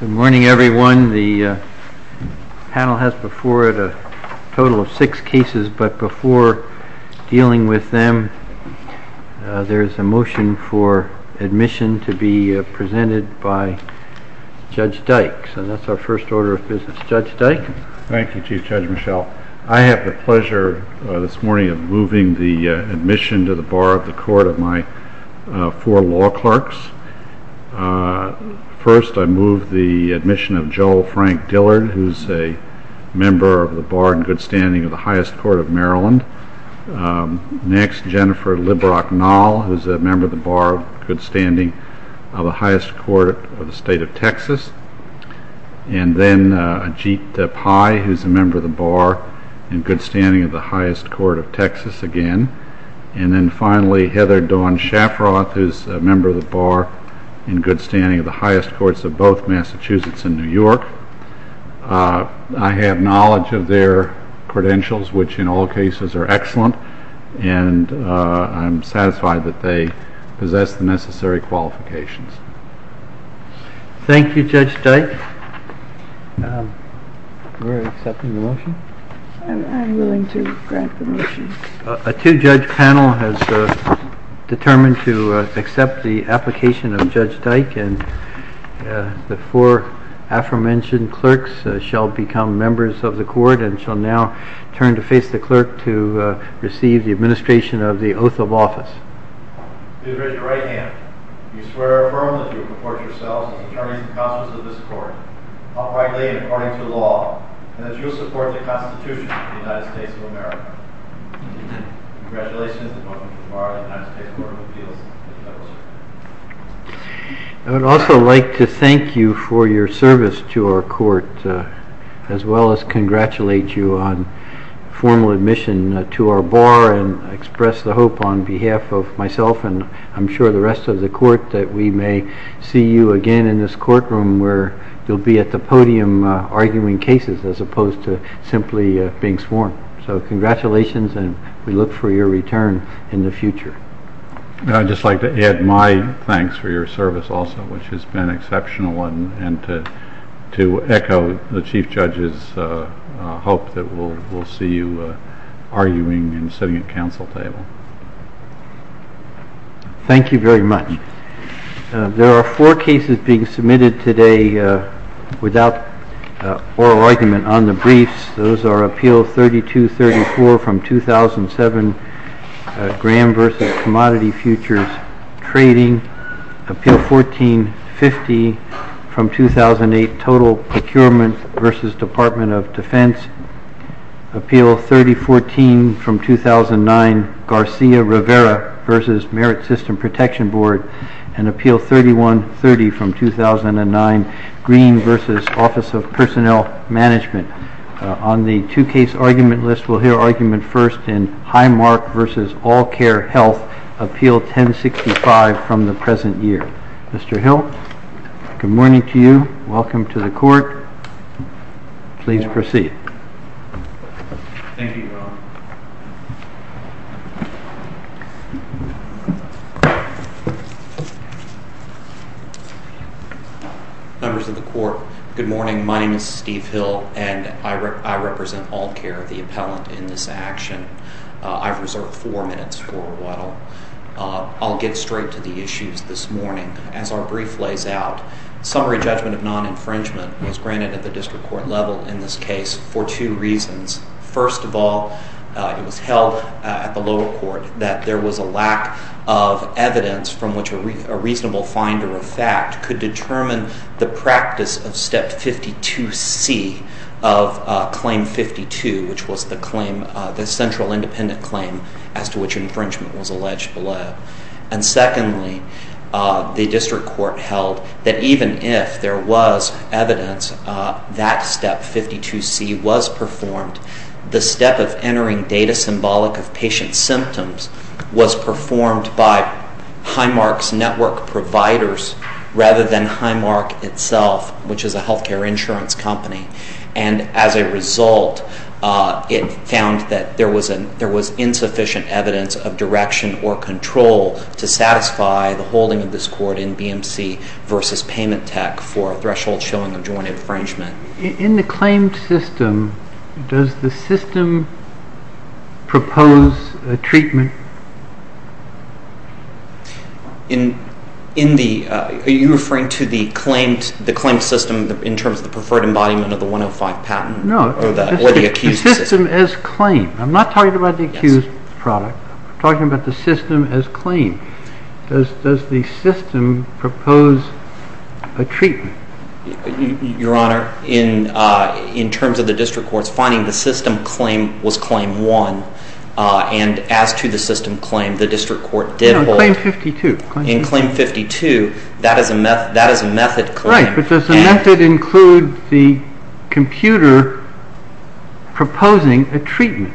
Good morning everyone. The panel has before it a total of six cases but before dealing with them there is a motion for admission to be presented by Judge Dyke. So that's our first order of business. Judge Dyke. Thank you Chief Judge Michel. I have the pleasure this morning of moving the admission to the First I move the admission of Joel Frank Dillard who is a member of the Bar in Good Standing of the Highest Court of Maryland. Next Jennifer Librock Nall who is a member of the Bar of Good Standing of the Highest Court of the State of Texas. And then Ajit Pai who is a member of the Bar in Good Standing of the Highest Court of Texas again. And then finally Heather Dawn Shafroth who is a member of the Bar in Good Standing of the Highest Courts of both Massachusetts and New York. I have knowledge of their credentials which in all cases are excellent and I'm satisfied that they possess the necessary qualifications. Thank you Judge Dyke. We're accepting the motion? I'm willing to grant the motion. A two-judge panel has determined to accept the application of Judge Dyke and the four aforementioned clerks shall become members of the court and shall now turn to face the clerk to receive the administration of the oath of office. Please raise your right hand. Do you swear or affirm that you will report yourselves as attorneys and counsels of this court, uprightly and according to law, and that you will support the Constitution of the United States of America? Congratulations and welcome to the Bar of the United States Court of Appeals. I would also like to thank you for your service to our court as well as congratulate you on formal admission to our Bar and express the hope on behalf of myself and I'm sure the rest of the court that we may see you again in this courtroom where you'll be at the bench simply being sworn. So congratulations and we look for your return in the future. I'd just like to add my thanks for your service also which has been exceptional and to echo the Chief Judge's hope that we'll see you arguing and sitting at counsel table. Thank you very much. There are four cases being submitted today without oral argument on the briefs. Those are Appeal 3234 from 2007, Graham v. Commodity Futures Trading. Appeal 1450 from 2008, Total Procurement v. Department of Defense. Appeal 3014 from 2009, Garcia Rivera v. Merit System Protection Board. And Appeal 3130 from 2009, Green v. Office of Personnel Management. On the two-case argument list, we'll hear argument first in Highmark v. All Care Health, Appeal 1065 from the present year. Mr. Hill, good morning to you. Welcome to the court. Please proceed. Thank you, Your Honor. Members of the court, good morning. My name is Steve Hill and I represent All Care, the appellant in this action. I've reserved four minutes for what I'll get straight to the issues this morning. As our brief lays out, summary judgment of non-infringement was granted at the district court level in this case for two reasons. First of all, it was held at the lower court that there was a lack of evidence from which a reasonable finder of fact could determine the practice of Step 52C of Claim 52, which was the claim, the central independent claim as to which infringement was alleged below. And secondly, the district court held that even if there was evidence, that Step 52C was performed. The step of entering data symbolic of patient symptoms was performed by Highmark's network providers rather than Highmark itself, which is a health care insurance company. And as a result, it found that there was insufficient evidence of direction or control to satisfy the holding of this court in BMC versus payment tech for threshold showing of joint infringement. In the claimed system, does the system propose a treatment? Are you referring to the claimed system in terms of the preferred embodiment of the 105 patent? No, the system as claim. I'm not talking about the accused product. I'm talking about the system as claim. Does the system propose a treatment? Your Honor, in terms of the district court's finding, the system claim was Claim 1. And as to the system claim, the district court did hold. No, Claim 52. In Claim 52, that is a method claim. Right, but does the method include the computer proposing a treatment?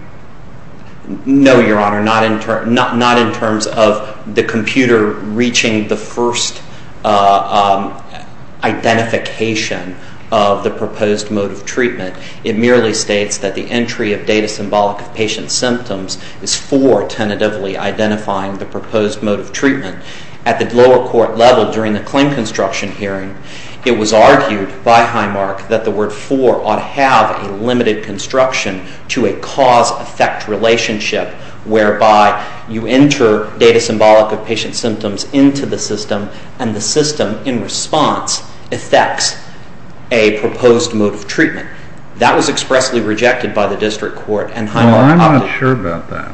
No, Your Honor, not in terms of the computer reaching the first identification of the proposed mode of treatment. It merely states that the entry of data symbolic of patient symptoms is for tentatively identifying the proposed mode of treatment. At the lower court level during the claim construction hearing, it was argued by Highmark that the word Claim 4 ought to have a limited construction to a cause-effect relationship, whereby you enter data symbolic of patient symptoms into the system, and the system, in response, effects a proposed mode of treatment. That was expressly rejected by the district court. I'm not sure about that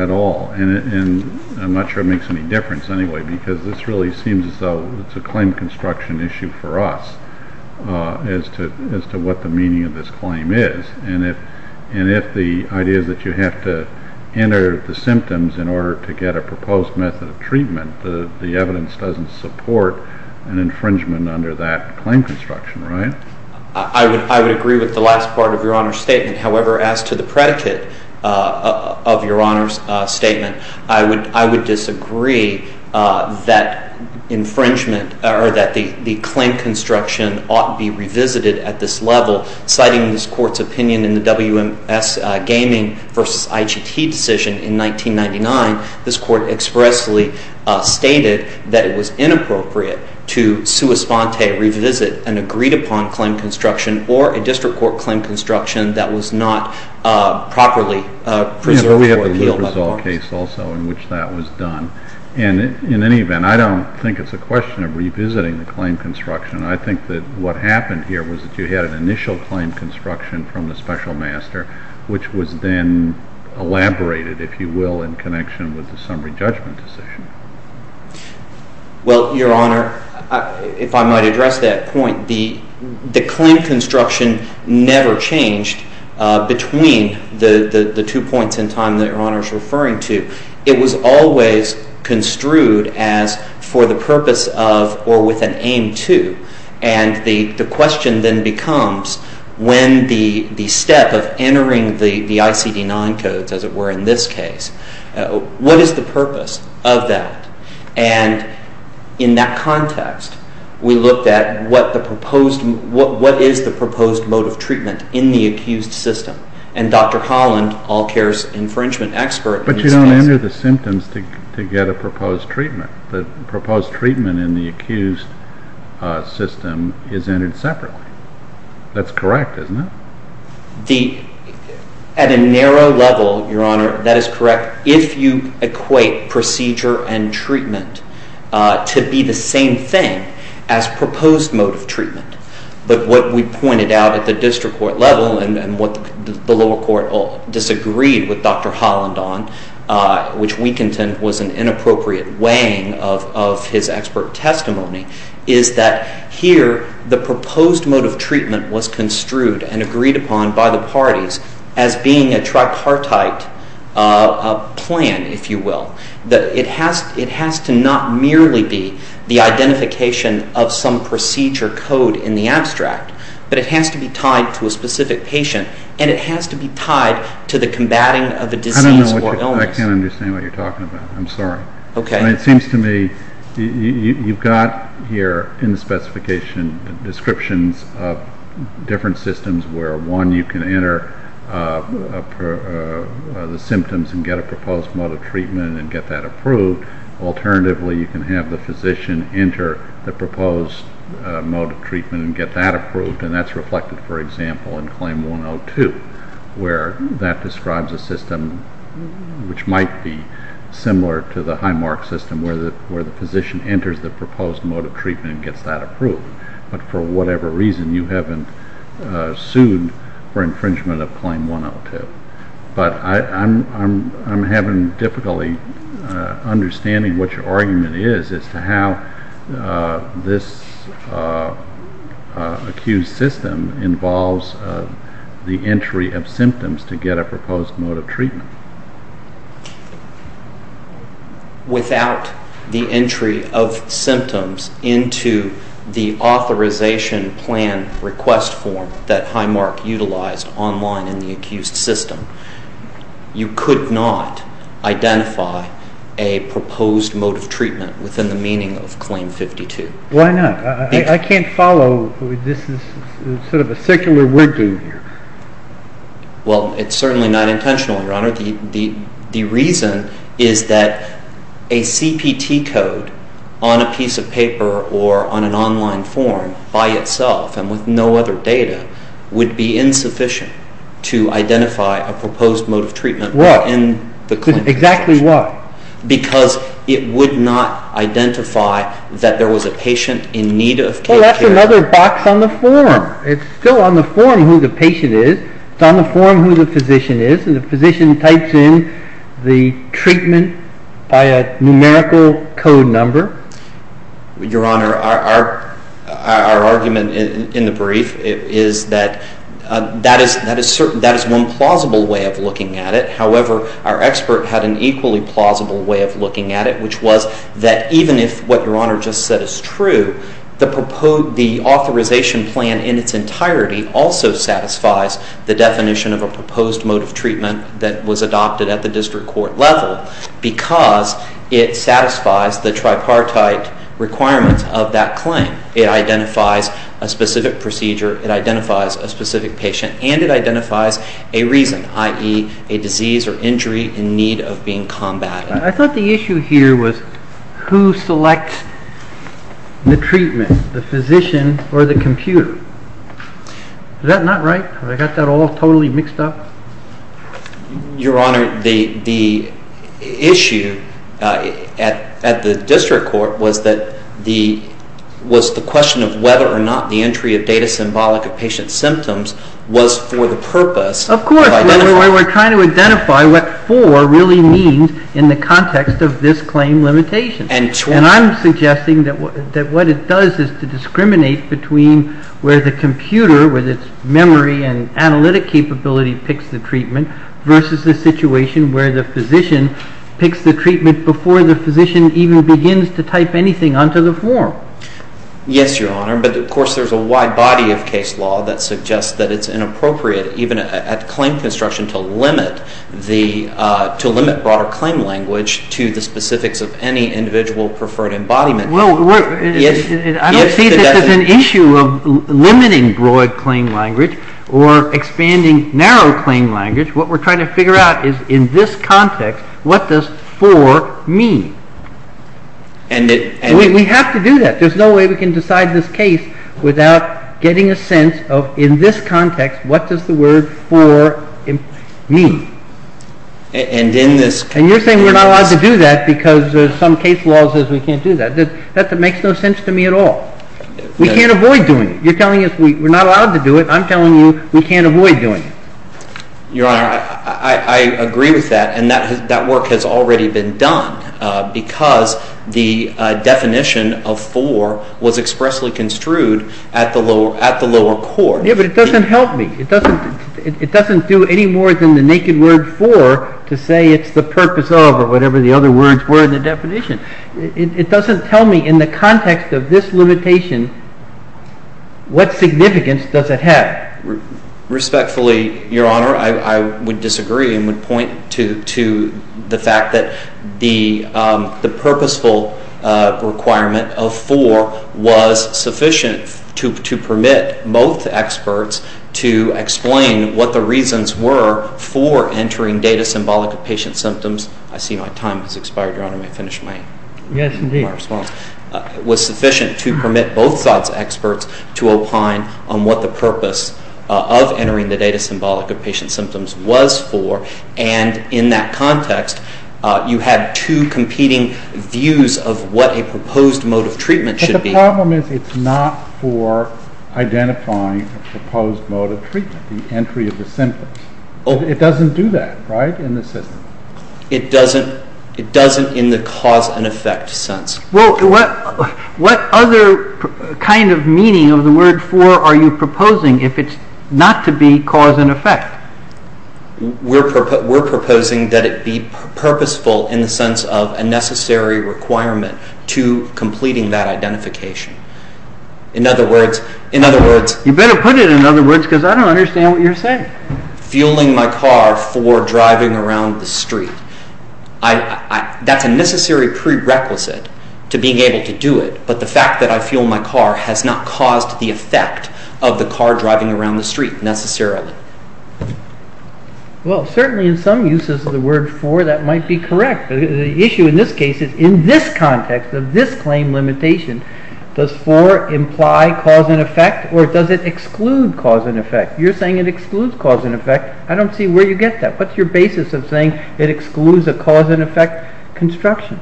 at all, and I'm not sure it makes any difference anyway, because this really seems as though it's a claim construction issue for us as to what the meaning of this claim is. And if the idea is that you have to enter the symptoms in order to get a proposed method of treatment, the evidence doesn't support an infringement under that claim construction, right? I would agree with the last part of Your Honor's statement. However, as to the predicate of Your Honor's statement, I would disagree that infringement or that the claim construction ought to be revisited at this level. Citing this Court's opinion in the WMS Gaming v. IGT decision in 1999, this Court expressly stated that it was inappropriate to sua sponte revisit an agreed-upon claim construction or a district court claim construction that was not properly preserved for appeal by the court. That was a result case also in which that was done. And in any event, I don't think it's a question of revisiting the claim construction. I think that what happened here was that you had an initial claim construction from the special master, which was then elaborated, if you will, in connection with the summary judgment decision. Well, Your Honor, if I might address that point, the claim construction never changed between the two points in time that Your Honor is referring to. It was always construed as for the purpose of or with an aim to. And the question then becomes when the step of entering the ICD-9 codes, as it were in this case, what is the purpose of that? And in that context, we looked at what is the proposed mode of treatment in the accused system. And Dr. Holland, All Cares infringement expert, But you don't enter the symptoms to get a proposed treatment. The proposed treatment in the accused system is entered separately. That's correct, isn't it? At a narrow level, Your Honor, that is correct. If you equate procedure and treatment to be the same thing as proposed mode of treatment, but what we pointed out at the district court level and what the lower court disagreed with Dr. Holland on, which we contend was an inappropriate weighing of his expert testimony, is that here the proposed mode of treatment was construed and agreed upon by the parties as being a tripartite plan, if you will. It has to not merely be the identification of some procedure code in the abstract, but it has to be tied to a specific patient and it has to be tied to the combating of a disease or illness. I can't understand what you're talking about. I'm sorry. It seems to me you've got here in the specification descriptions of different systems where, one, you can enter the symptoms and get a proposed mode of treatment and get that approved. Alternatively, you can have the physician enter the proposed mode of treatment and get that approved, and that's reflected, for example, in Claim 102, where that describes a system which might be similar to the Highmark system where the physician enters the proposed mode of treatment and gets that approved. But for whatever reason, you haven't sued for infringement of Claim 102. But I'm having difficulty understanding what your argument is as to how this accused system involves the entry of symptoms to get a proposed mode of treatment. Without the entry of symptoms into the authorization plan request form that Highmark utilized online in the accused system, you could not identify a proposed mode of treatment within the meaning of Claim 52. Why not? I can't follow. This is sort of a secular wiggle here. Well, it's certainly not intentional, Your Honor. The reason is that a CPT code on a piece of paper or on an online form by itself and with no other data would be insufficient to identify a proposed mode of treatment within the claim. What? Exactly what? Because it would not identify that there was a patient in need of care. Well, that's another box on the form. It's still on the form who the patient is. It's on the form who the physician is. And the physician types in the treatment by a numerical code number. Your Honor, our argument in the brief is that that is one plausible way of looking at it. However, our expert had an equally plausible way of looking at it, which was that even if what Your Honor just said is true, the authorization plan in its entirety also satisfies the definition of a proposed mode of treatment that was adopted at the district court level because it satisfies the tripartite requirements of that claim. It identifies a specific procedure. It identifies a specific patient. And it identifies a reason, i.e., a disease or injury in need of being combated. I thought the issue here was who selects the treatment, the physician or the computer. Is that not right? Have I got that all totally mixed up? Your Honor, the issue at the district court was the question of whether or not the entry of data symbolic of patient symptoms was for the purpose of identifying. That's why we're trying to identify what for really means in the context of this claim limitation. And I'm suggesting that what it does is to discriminate between where the computer with its memory and analytic capability picks the treatment versus the situation where the physician picks the treatment before the physician even begins to type anything onto the form. Yes, Your Honor, but of course there's a wide body of case law that suggests that it's inappropriate even at claim construction to limit broader claim language to the specifics of any individual preferred embodiment. I don't see this as an issue of limiting broad claim language or expanding narrow claim language. What we're trying to figure out is in this context, what does for mean? We have to do that. There's no way we can decide this case without getting a sense of in this context, what does the word for mean? And you're saying we're not allowed to do that because some case law says we can't do that. That makes no sense to me at all. We can't avoid doing it. You're telling us we're not allowed to do it. I'm telling you we can't avoid doing it. Your Honor, I agree with that, and that work has already been done because the definition of for was expressly construed at the lower court. Yeah, but it doesn't help me. It doesn't do any more than the naked word for to say it's the purpose of or whatever the other words were in the definition. It doesn't tell me in the context of this limitation, what significance does it have? Respectfully, Your Honor, I would disagree and would point to the fact that the purposeful requirement of for was sufficient to permit both experts to explain what the reasons were for entering data symbolic of patient symptoms. I see my time has expired, Your Honor. Let me finish my response. Yes, indeed. It was sufficient to permit both sides' experts to opine on what the purpose of entering the data symbolic of patient symptoms was for, and in that context, you had two competing views of what a proposed mode of treatment should be. But the problem is it's not for identifying a proposed mode of treatment, the entry of the symptoms. It doesn't do that, right, in the system? It doesn't in the cause and effect sense. Well, what other kind of meaning of the word for are you proposing if it's not to be cause and effect? We're proposing that it be purposeful in the sense of a necessary requirement to completing that identification. In other words... You better put it in other words because I don't understand what you're saying. That's a necessary prerequisite to being able to do it, but the fact that I fuel my car has not caused the effect of the car driving around the street necessarily. Well, certainly in some uses of the word for that might be correct. The issue in this case is in this context of this claim limitation, does for imply cause and effect or does it exclude cause and effect? You're saying it excludes cause and effect. I don't see where you get that. What's your basis of saying it excludes a cause and effect construction?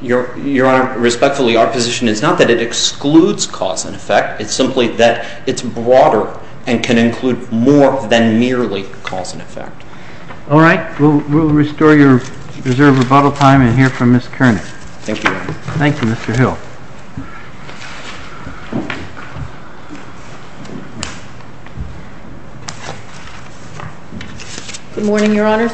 Your Honor, respectfully, our position is not that it excludes cause and effect. It's simply that it's broader and can include more than merely cause and effect. All right, we'll restore your reserve of bottle time and hear from Ms. Koerner. Thank you, Your Honor. Thank you, Mr. Hill. Good morning, Your Honors.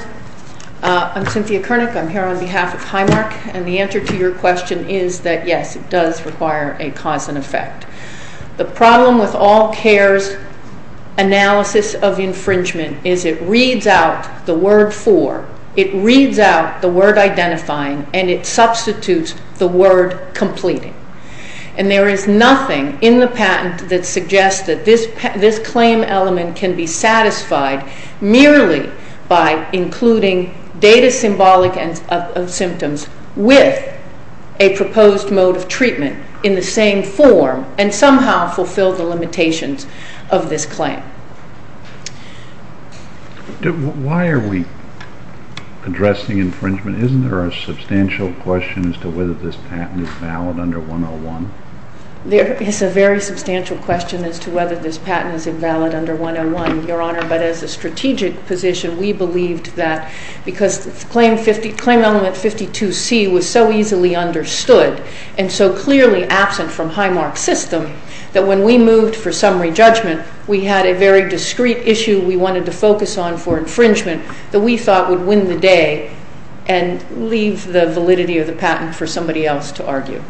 I'm Cynthia Koerner. I'm here on behalf of Highmark, and the answer to your question is that, yes, it does require a cause and effect. The problem with all cares analysis of infringement is it reads out the word for, it reads out the word identifying, and it substitutes the word completing. And there is nothing in the patent that suggests that this claim element can be satisfied merely by including data symbolic of symptoms with a proposed mode of treatment in the same form and somehow fulfill the limitations of this claim. Why are we addressing infringement? Isn't there a substantial question as to whether this patent is valid under 101? There is a very substantial question as to whether this patent is invalid under 101, Your Honor. But as a strategic position, we believed that because claim element 52C was so easily understood and so clearly absent from Highmark's system that when we moved for summary judgment, we had a very discreet issue we wanted to focus on for infringement that we thought would win the day. And leave the validity of the patent for somebody else to argue.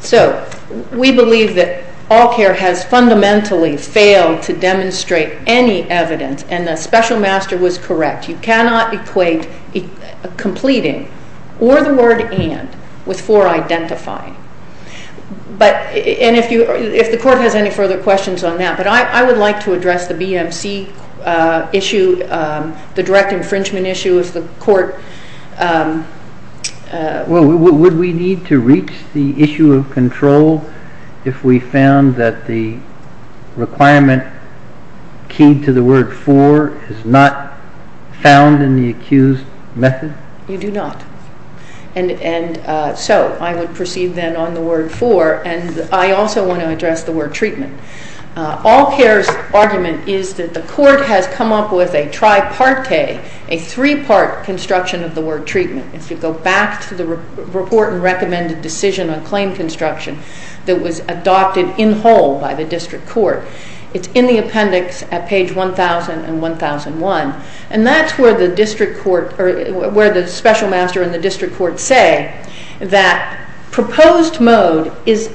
So we believe that all care has fundamentally failed to demonstrate any evidence, and the special master was correct. You cannot equate completing or the word and with for identifying. And if the court has any further questions on that, but I would like to address the BMC issue, the direct infringement issue if the court... Well, would we need to reach the issue of control if we found that the requirement keyed to the word for is not found in the accused method? You do not. And so I would proceed then on the word for, and I also want to address the word treatment. All care's argument is that the court has come up with a tripartite, a three-part construction of the word treatment. If you go back to the report and recommended decision on claim construction that was adopted in whole by the district court, it's in the appendix at page 1,000 and 1,001. And that's where the district court or where the special master and the district court say that proposed mode is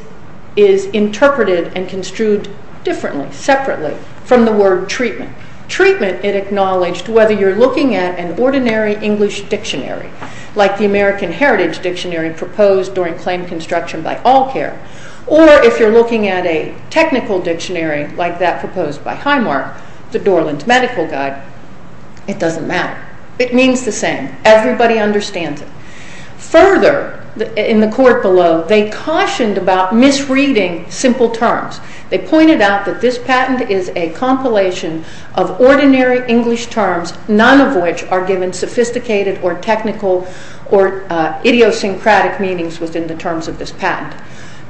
interpreted and construed differently, separately from the word treatment. Treatment, it acknowledged, whether you're looking at an ordinary English dictionary, like the American Heritage Dictionary proposed during claim construction by All Care, or if you're looking at a technical dictionary like that proposed by Highmark, the Dorland Medical Guide, it doesn't matter. It means the same. Everybody understands it. Further, in the court below, they cautioned about misreading simple terms. They pointed out that this patent is a compilation of ordinary English terms, none of which are given sophisticated or technical or idiosyncratic meanings within the terms of this patent.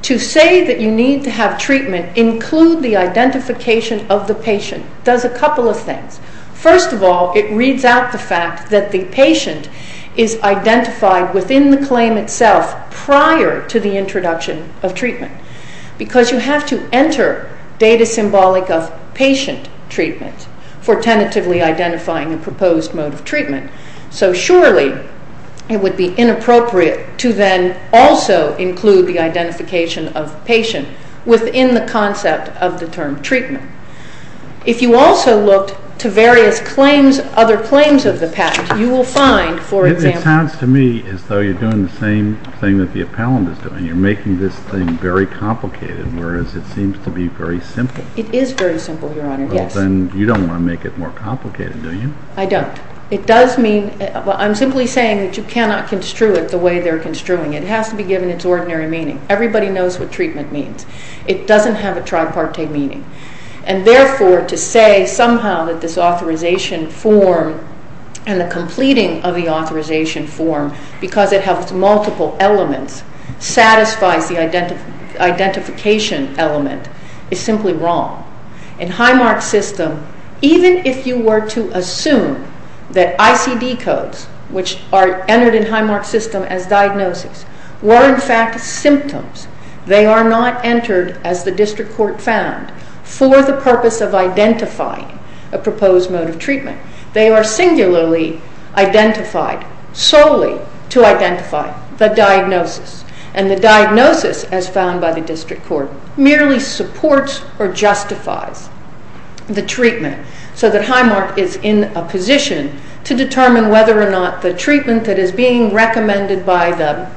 To say that you need to have treatment include the identification of the patient does a couple of things. First of all, it reads out the fact that the patient is identified within the claim itself prior to the introduction of treatment because you have to enter data symbolic of patient treatment for tentatively identifying a proposed mode of treatment. So surely it would be inappropriate to then also include the identification of patient within the concept of the term treatment. If you also looked to various other claims of the patent, you will find, for example... It sounds to me as though you're doing the same thing that the appellant is doing. You're making this thing very complicated, whereas it seems to be very simple. It is very simple, Your Honor, yes. Well, then you don't want to make it more complicated, do you? I don't. It does mean... I'm simply saying that you cannot construe it the way they're construing it. It has to be given its ordinary meaning. Everybody knows what treatment means. It doesn't have a tripartite meaning. And therefore, to say somehow that this authorization form and the completing of the authorization form, because it has multiple elements, satisfies the identification element, is simply wrong. In Highmark's system, even if you were to assume that ICD codes, which are entered in Highmark's system as diagnosis, were in fact symptoms, they are not entered as the district court found for the purpose of identifying a proposed mode of treatment. They are singularly identified solely to identify the diagnosis. And the diagnosis, as found by the district court, merely supports or justifies the treatment so that Highmark is in a position to determine whether or not the treatment that is being recommended by the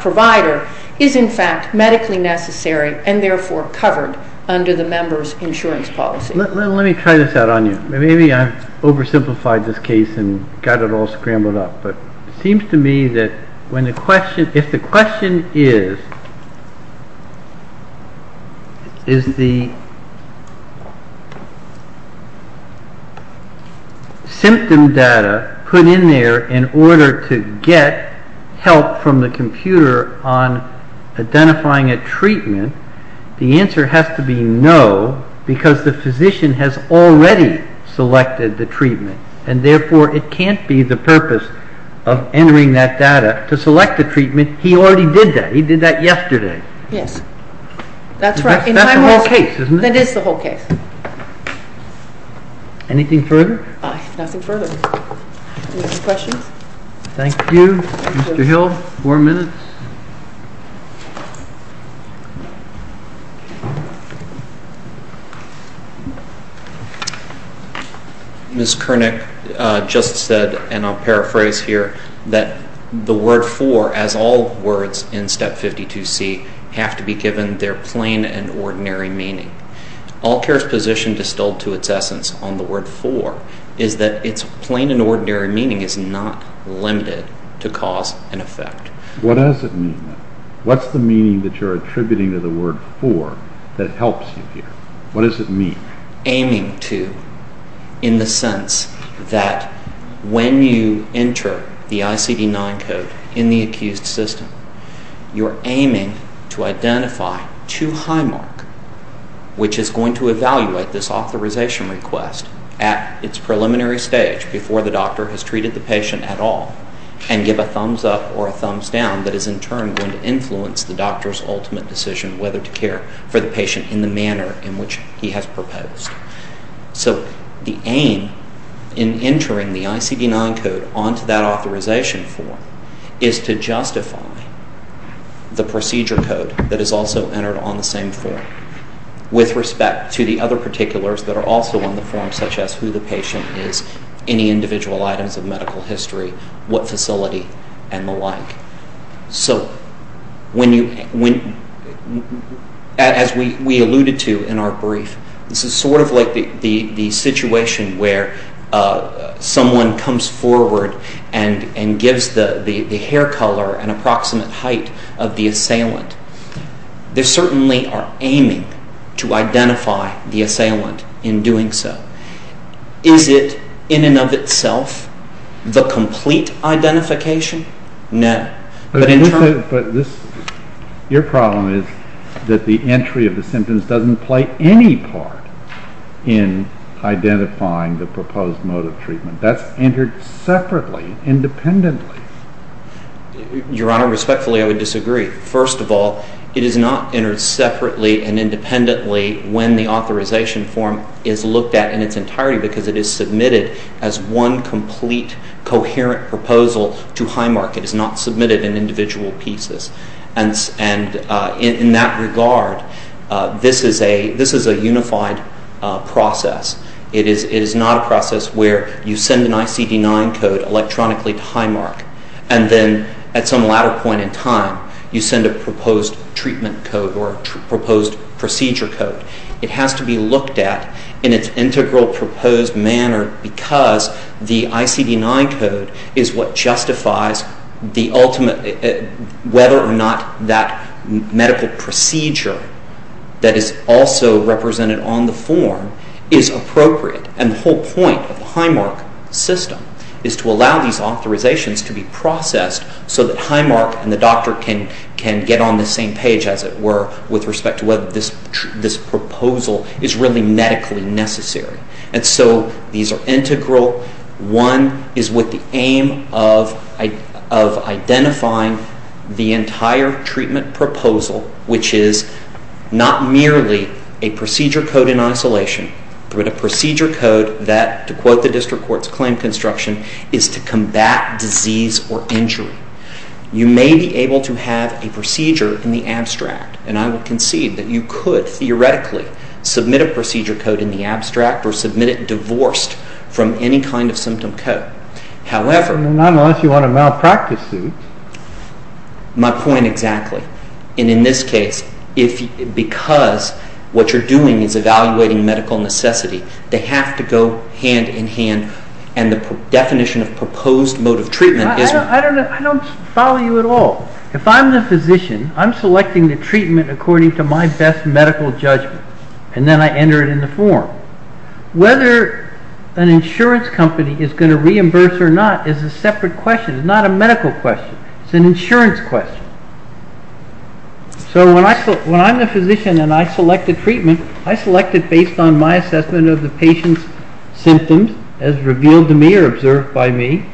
provider is in fact medically necessary and therefore covered under the member's insurance policy. Let me try this out on you. Maybe I've oversimplified this case and got it all scrambled up. It seems to me that if the question is, is the symptom data put in there in order to get help from the computer on identifying a treatment, the answer has to be no, because the physician has already selected the treatment. And therefore, it can't be the purpose of entering that data to select the treatment. He already did that. He did that yesterday. Yes. That's right. That's the whole case, isn't it? That is the whole case. Anything further? Nothing further. Any other questions? Thank you. Mr. Hill, four minutes. Ms. Koenig just said, and I'll paraphrase here, that the word for, as all words in Step 52C, have to be given their plain and ordinary meaning. All Care's position distilled to its essence on the word for is that its plain and ordinary meaning is not limited to cause and effect. What does it mean, then? What's the meaning that you're attributing to the word for that helps you here? What does it mean? Aiming to, in the sense that when you enter the ICD-9 code in the accused system, you're aiming to identify two high mark, which is going to evaluate this authorization request at its preliminary stage, before the doctor has treated the patient at all, and give a thumbs up or a thumbs down that is in turn going to influence the doctor's ultimate decision whether to care for the patient in the manner in which he has proposed. So the aim in entering the ICD-9 code onto that authorization form is to justify the procedure code that is also entered on the same form with respect to the other particulars that are also on the form, such as who the patient is, any individual items of medical history, what facility, and the like. So as we alluded to in our brief, this is sort of like the situation where someone comes forward and gives the hair color an approximate height of the assailant. They certainly are aiming to identify the assailant in doing so. Is it, in and of itself, the complete identification? No. But your problem is that the entry of the symptoms doesn't play any part in identifying the proposed mode of treatment. That's entered separately, independently. Your Honor, respectfully, I would disagree. First of all, it is not entered separately and independently when the authorization form is looked at in its entirety because it is submitted as one complete, coherent proposal to Highmark. It is not submitted in individual pieces. And in that regard, this is a unified process. It is not a process where you send an ICD-9 code electronically to Highmark and then at some latter point in time you send a proposed treatment code or a proposed procedure code. It has to be looked at in its integral proposed manner because the ICD-9 code is what justifies whether or not that medical procedure that is also represented on the form is appropriate. And the whole point of the Highmark system is to allow these authorizations to be processed so that Highmark and the doctor can get on the same page, as it were, with respect to whether this proposal is really medically necessary. And so these are integral. One is with the aim of identifying the entire treatment proposal, which is not merely a procedure code in isolation, but a procedure code that, to quote the District Court's claim construction, is to combat disease or injury. You may be able to have a procedure in the abstract, and I would concede that you could theoretically submit a procedure code in the abstract or submit it divorced from any kind of symptom code. However... Not unless you want a malpractice suit. My point exactly. And in this case, because what you're doing is evaluating medical necessity, they have to go hand in hand, and the definition of proposed mode of treatment is... I don't follow you at all. If I'm the physician, I'm selecting the treatment according to my best medical judgment, and then I enter it in the form. Whether an insurance company is going to reimburse or not is a separate question. It's not a medical question. It's an insurance question. So when I'm the physician and I select the treatment, I select it based on my assessment of the patient's symptoms, as revealed to me or observed by me.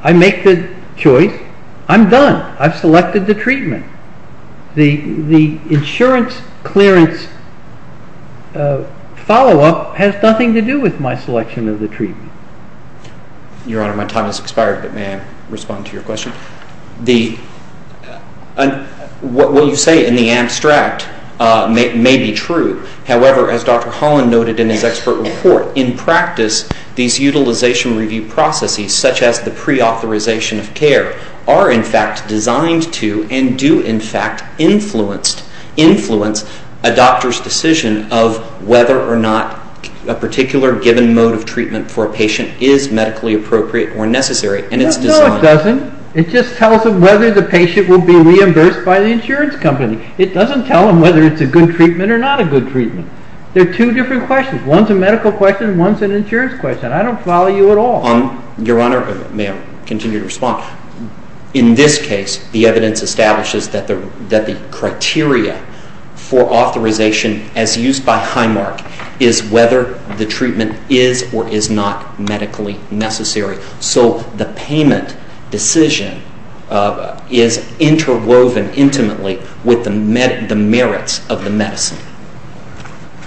I make the choice. I'm done. I've selected the treatment. The insurance clearance follow-up has nothing to do with my selection of the treatment. Your Honor, my time has expired, but may I respond to your question? What you say in the abstract may be true. However, as Dr. Holland noted in his expert report, in practice these utilization review processes, such as the preauthorization of care, are in fact designed to and do in fact influence a doctor's decision of whether or not a particular given mode of treatment for a patient is medically appropriate or necessary, and it's designed. No, it doesn't. It just tells them whether the patient will be reimbursed by the insurance company. It doesn't tell them whether it's a good treatment or not a good treatment. They're two different questions. One's a medical question and one's an insurance question. I don't follow you at all. Your Honor, may I continue to respond? In this case, the evidence establishes that the criteria for authorization as used by Highmark is whether the treatment is or is not medically necessary. So the payment decision is interwoven intimately with the merits of the medicine.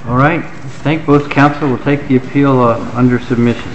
All right. I thank both counsel. We'll take the appeal under submission.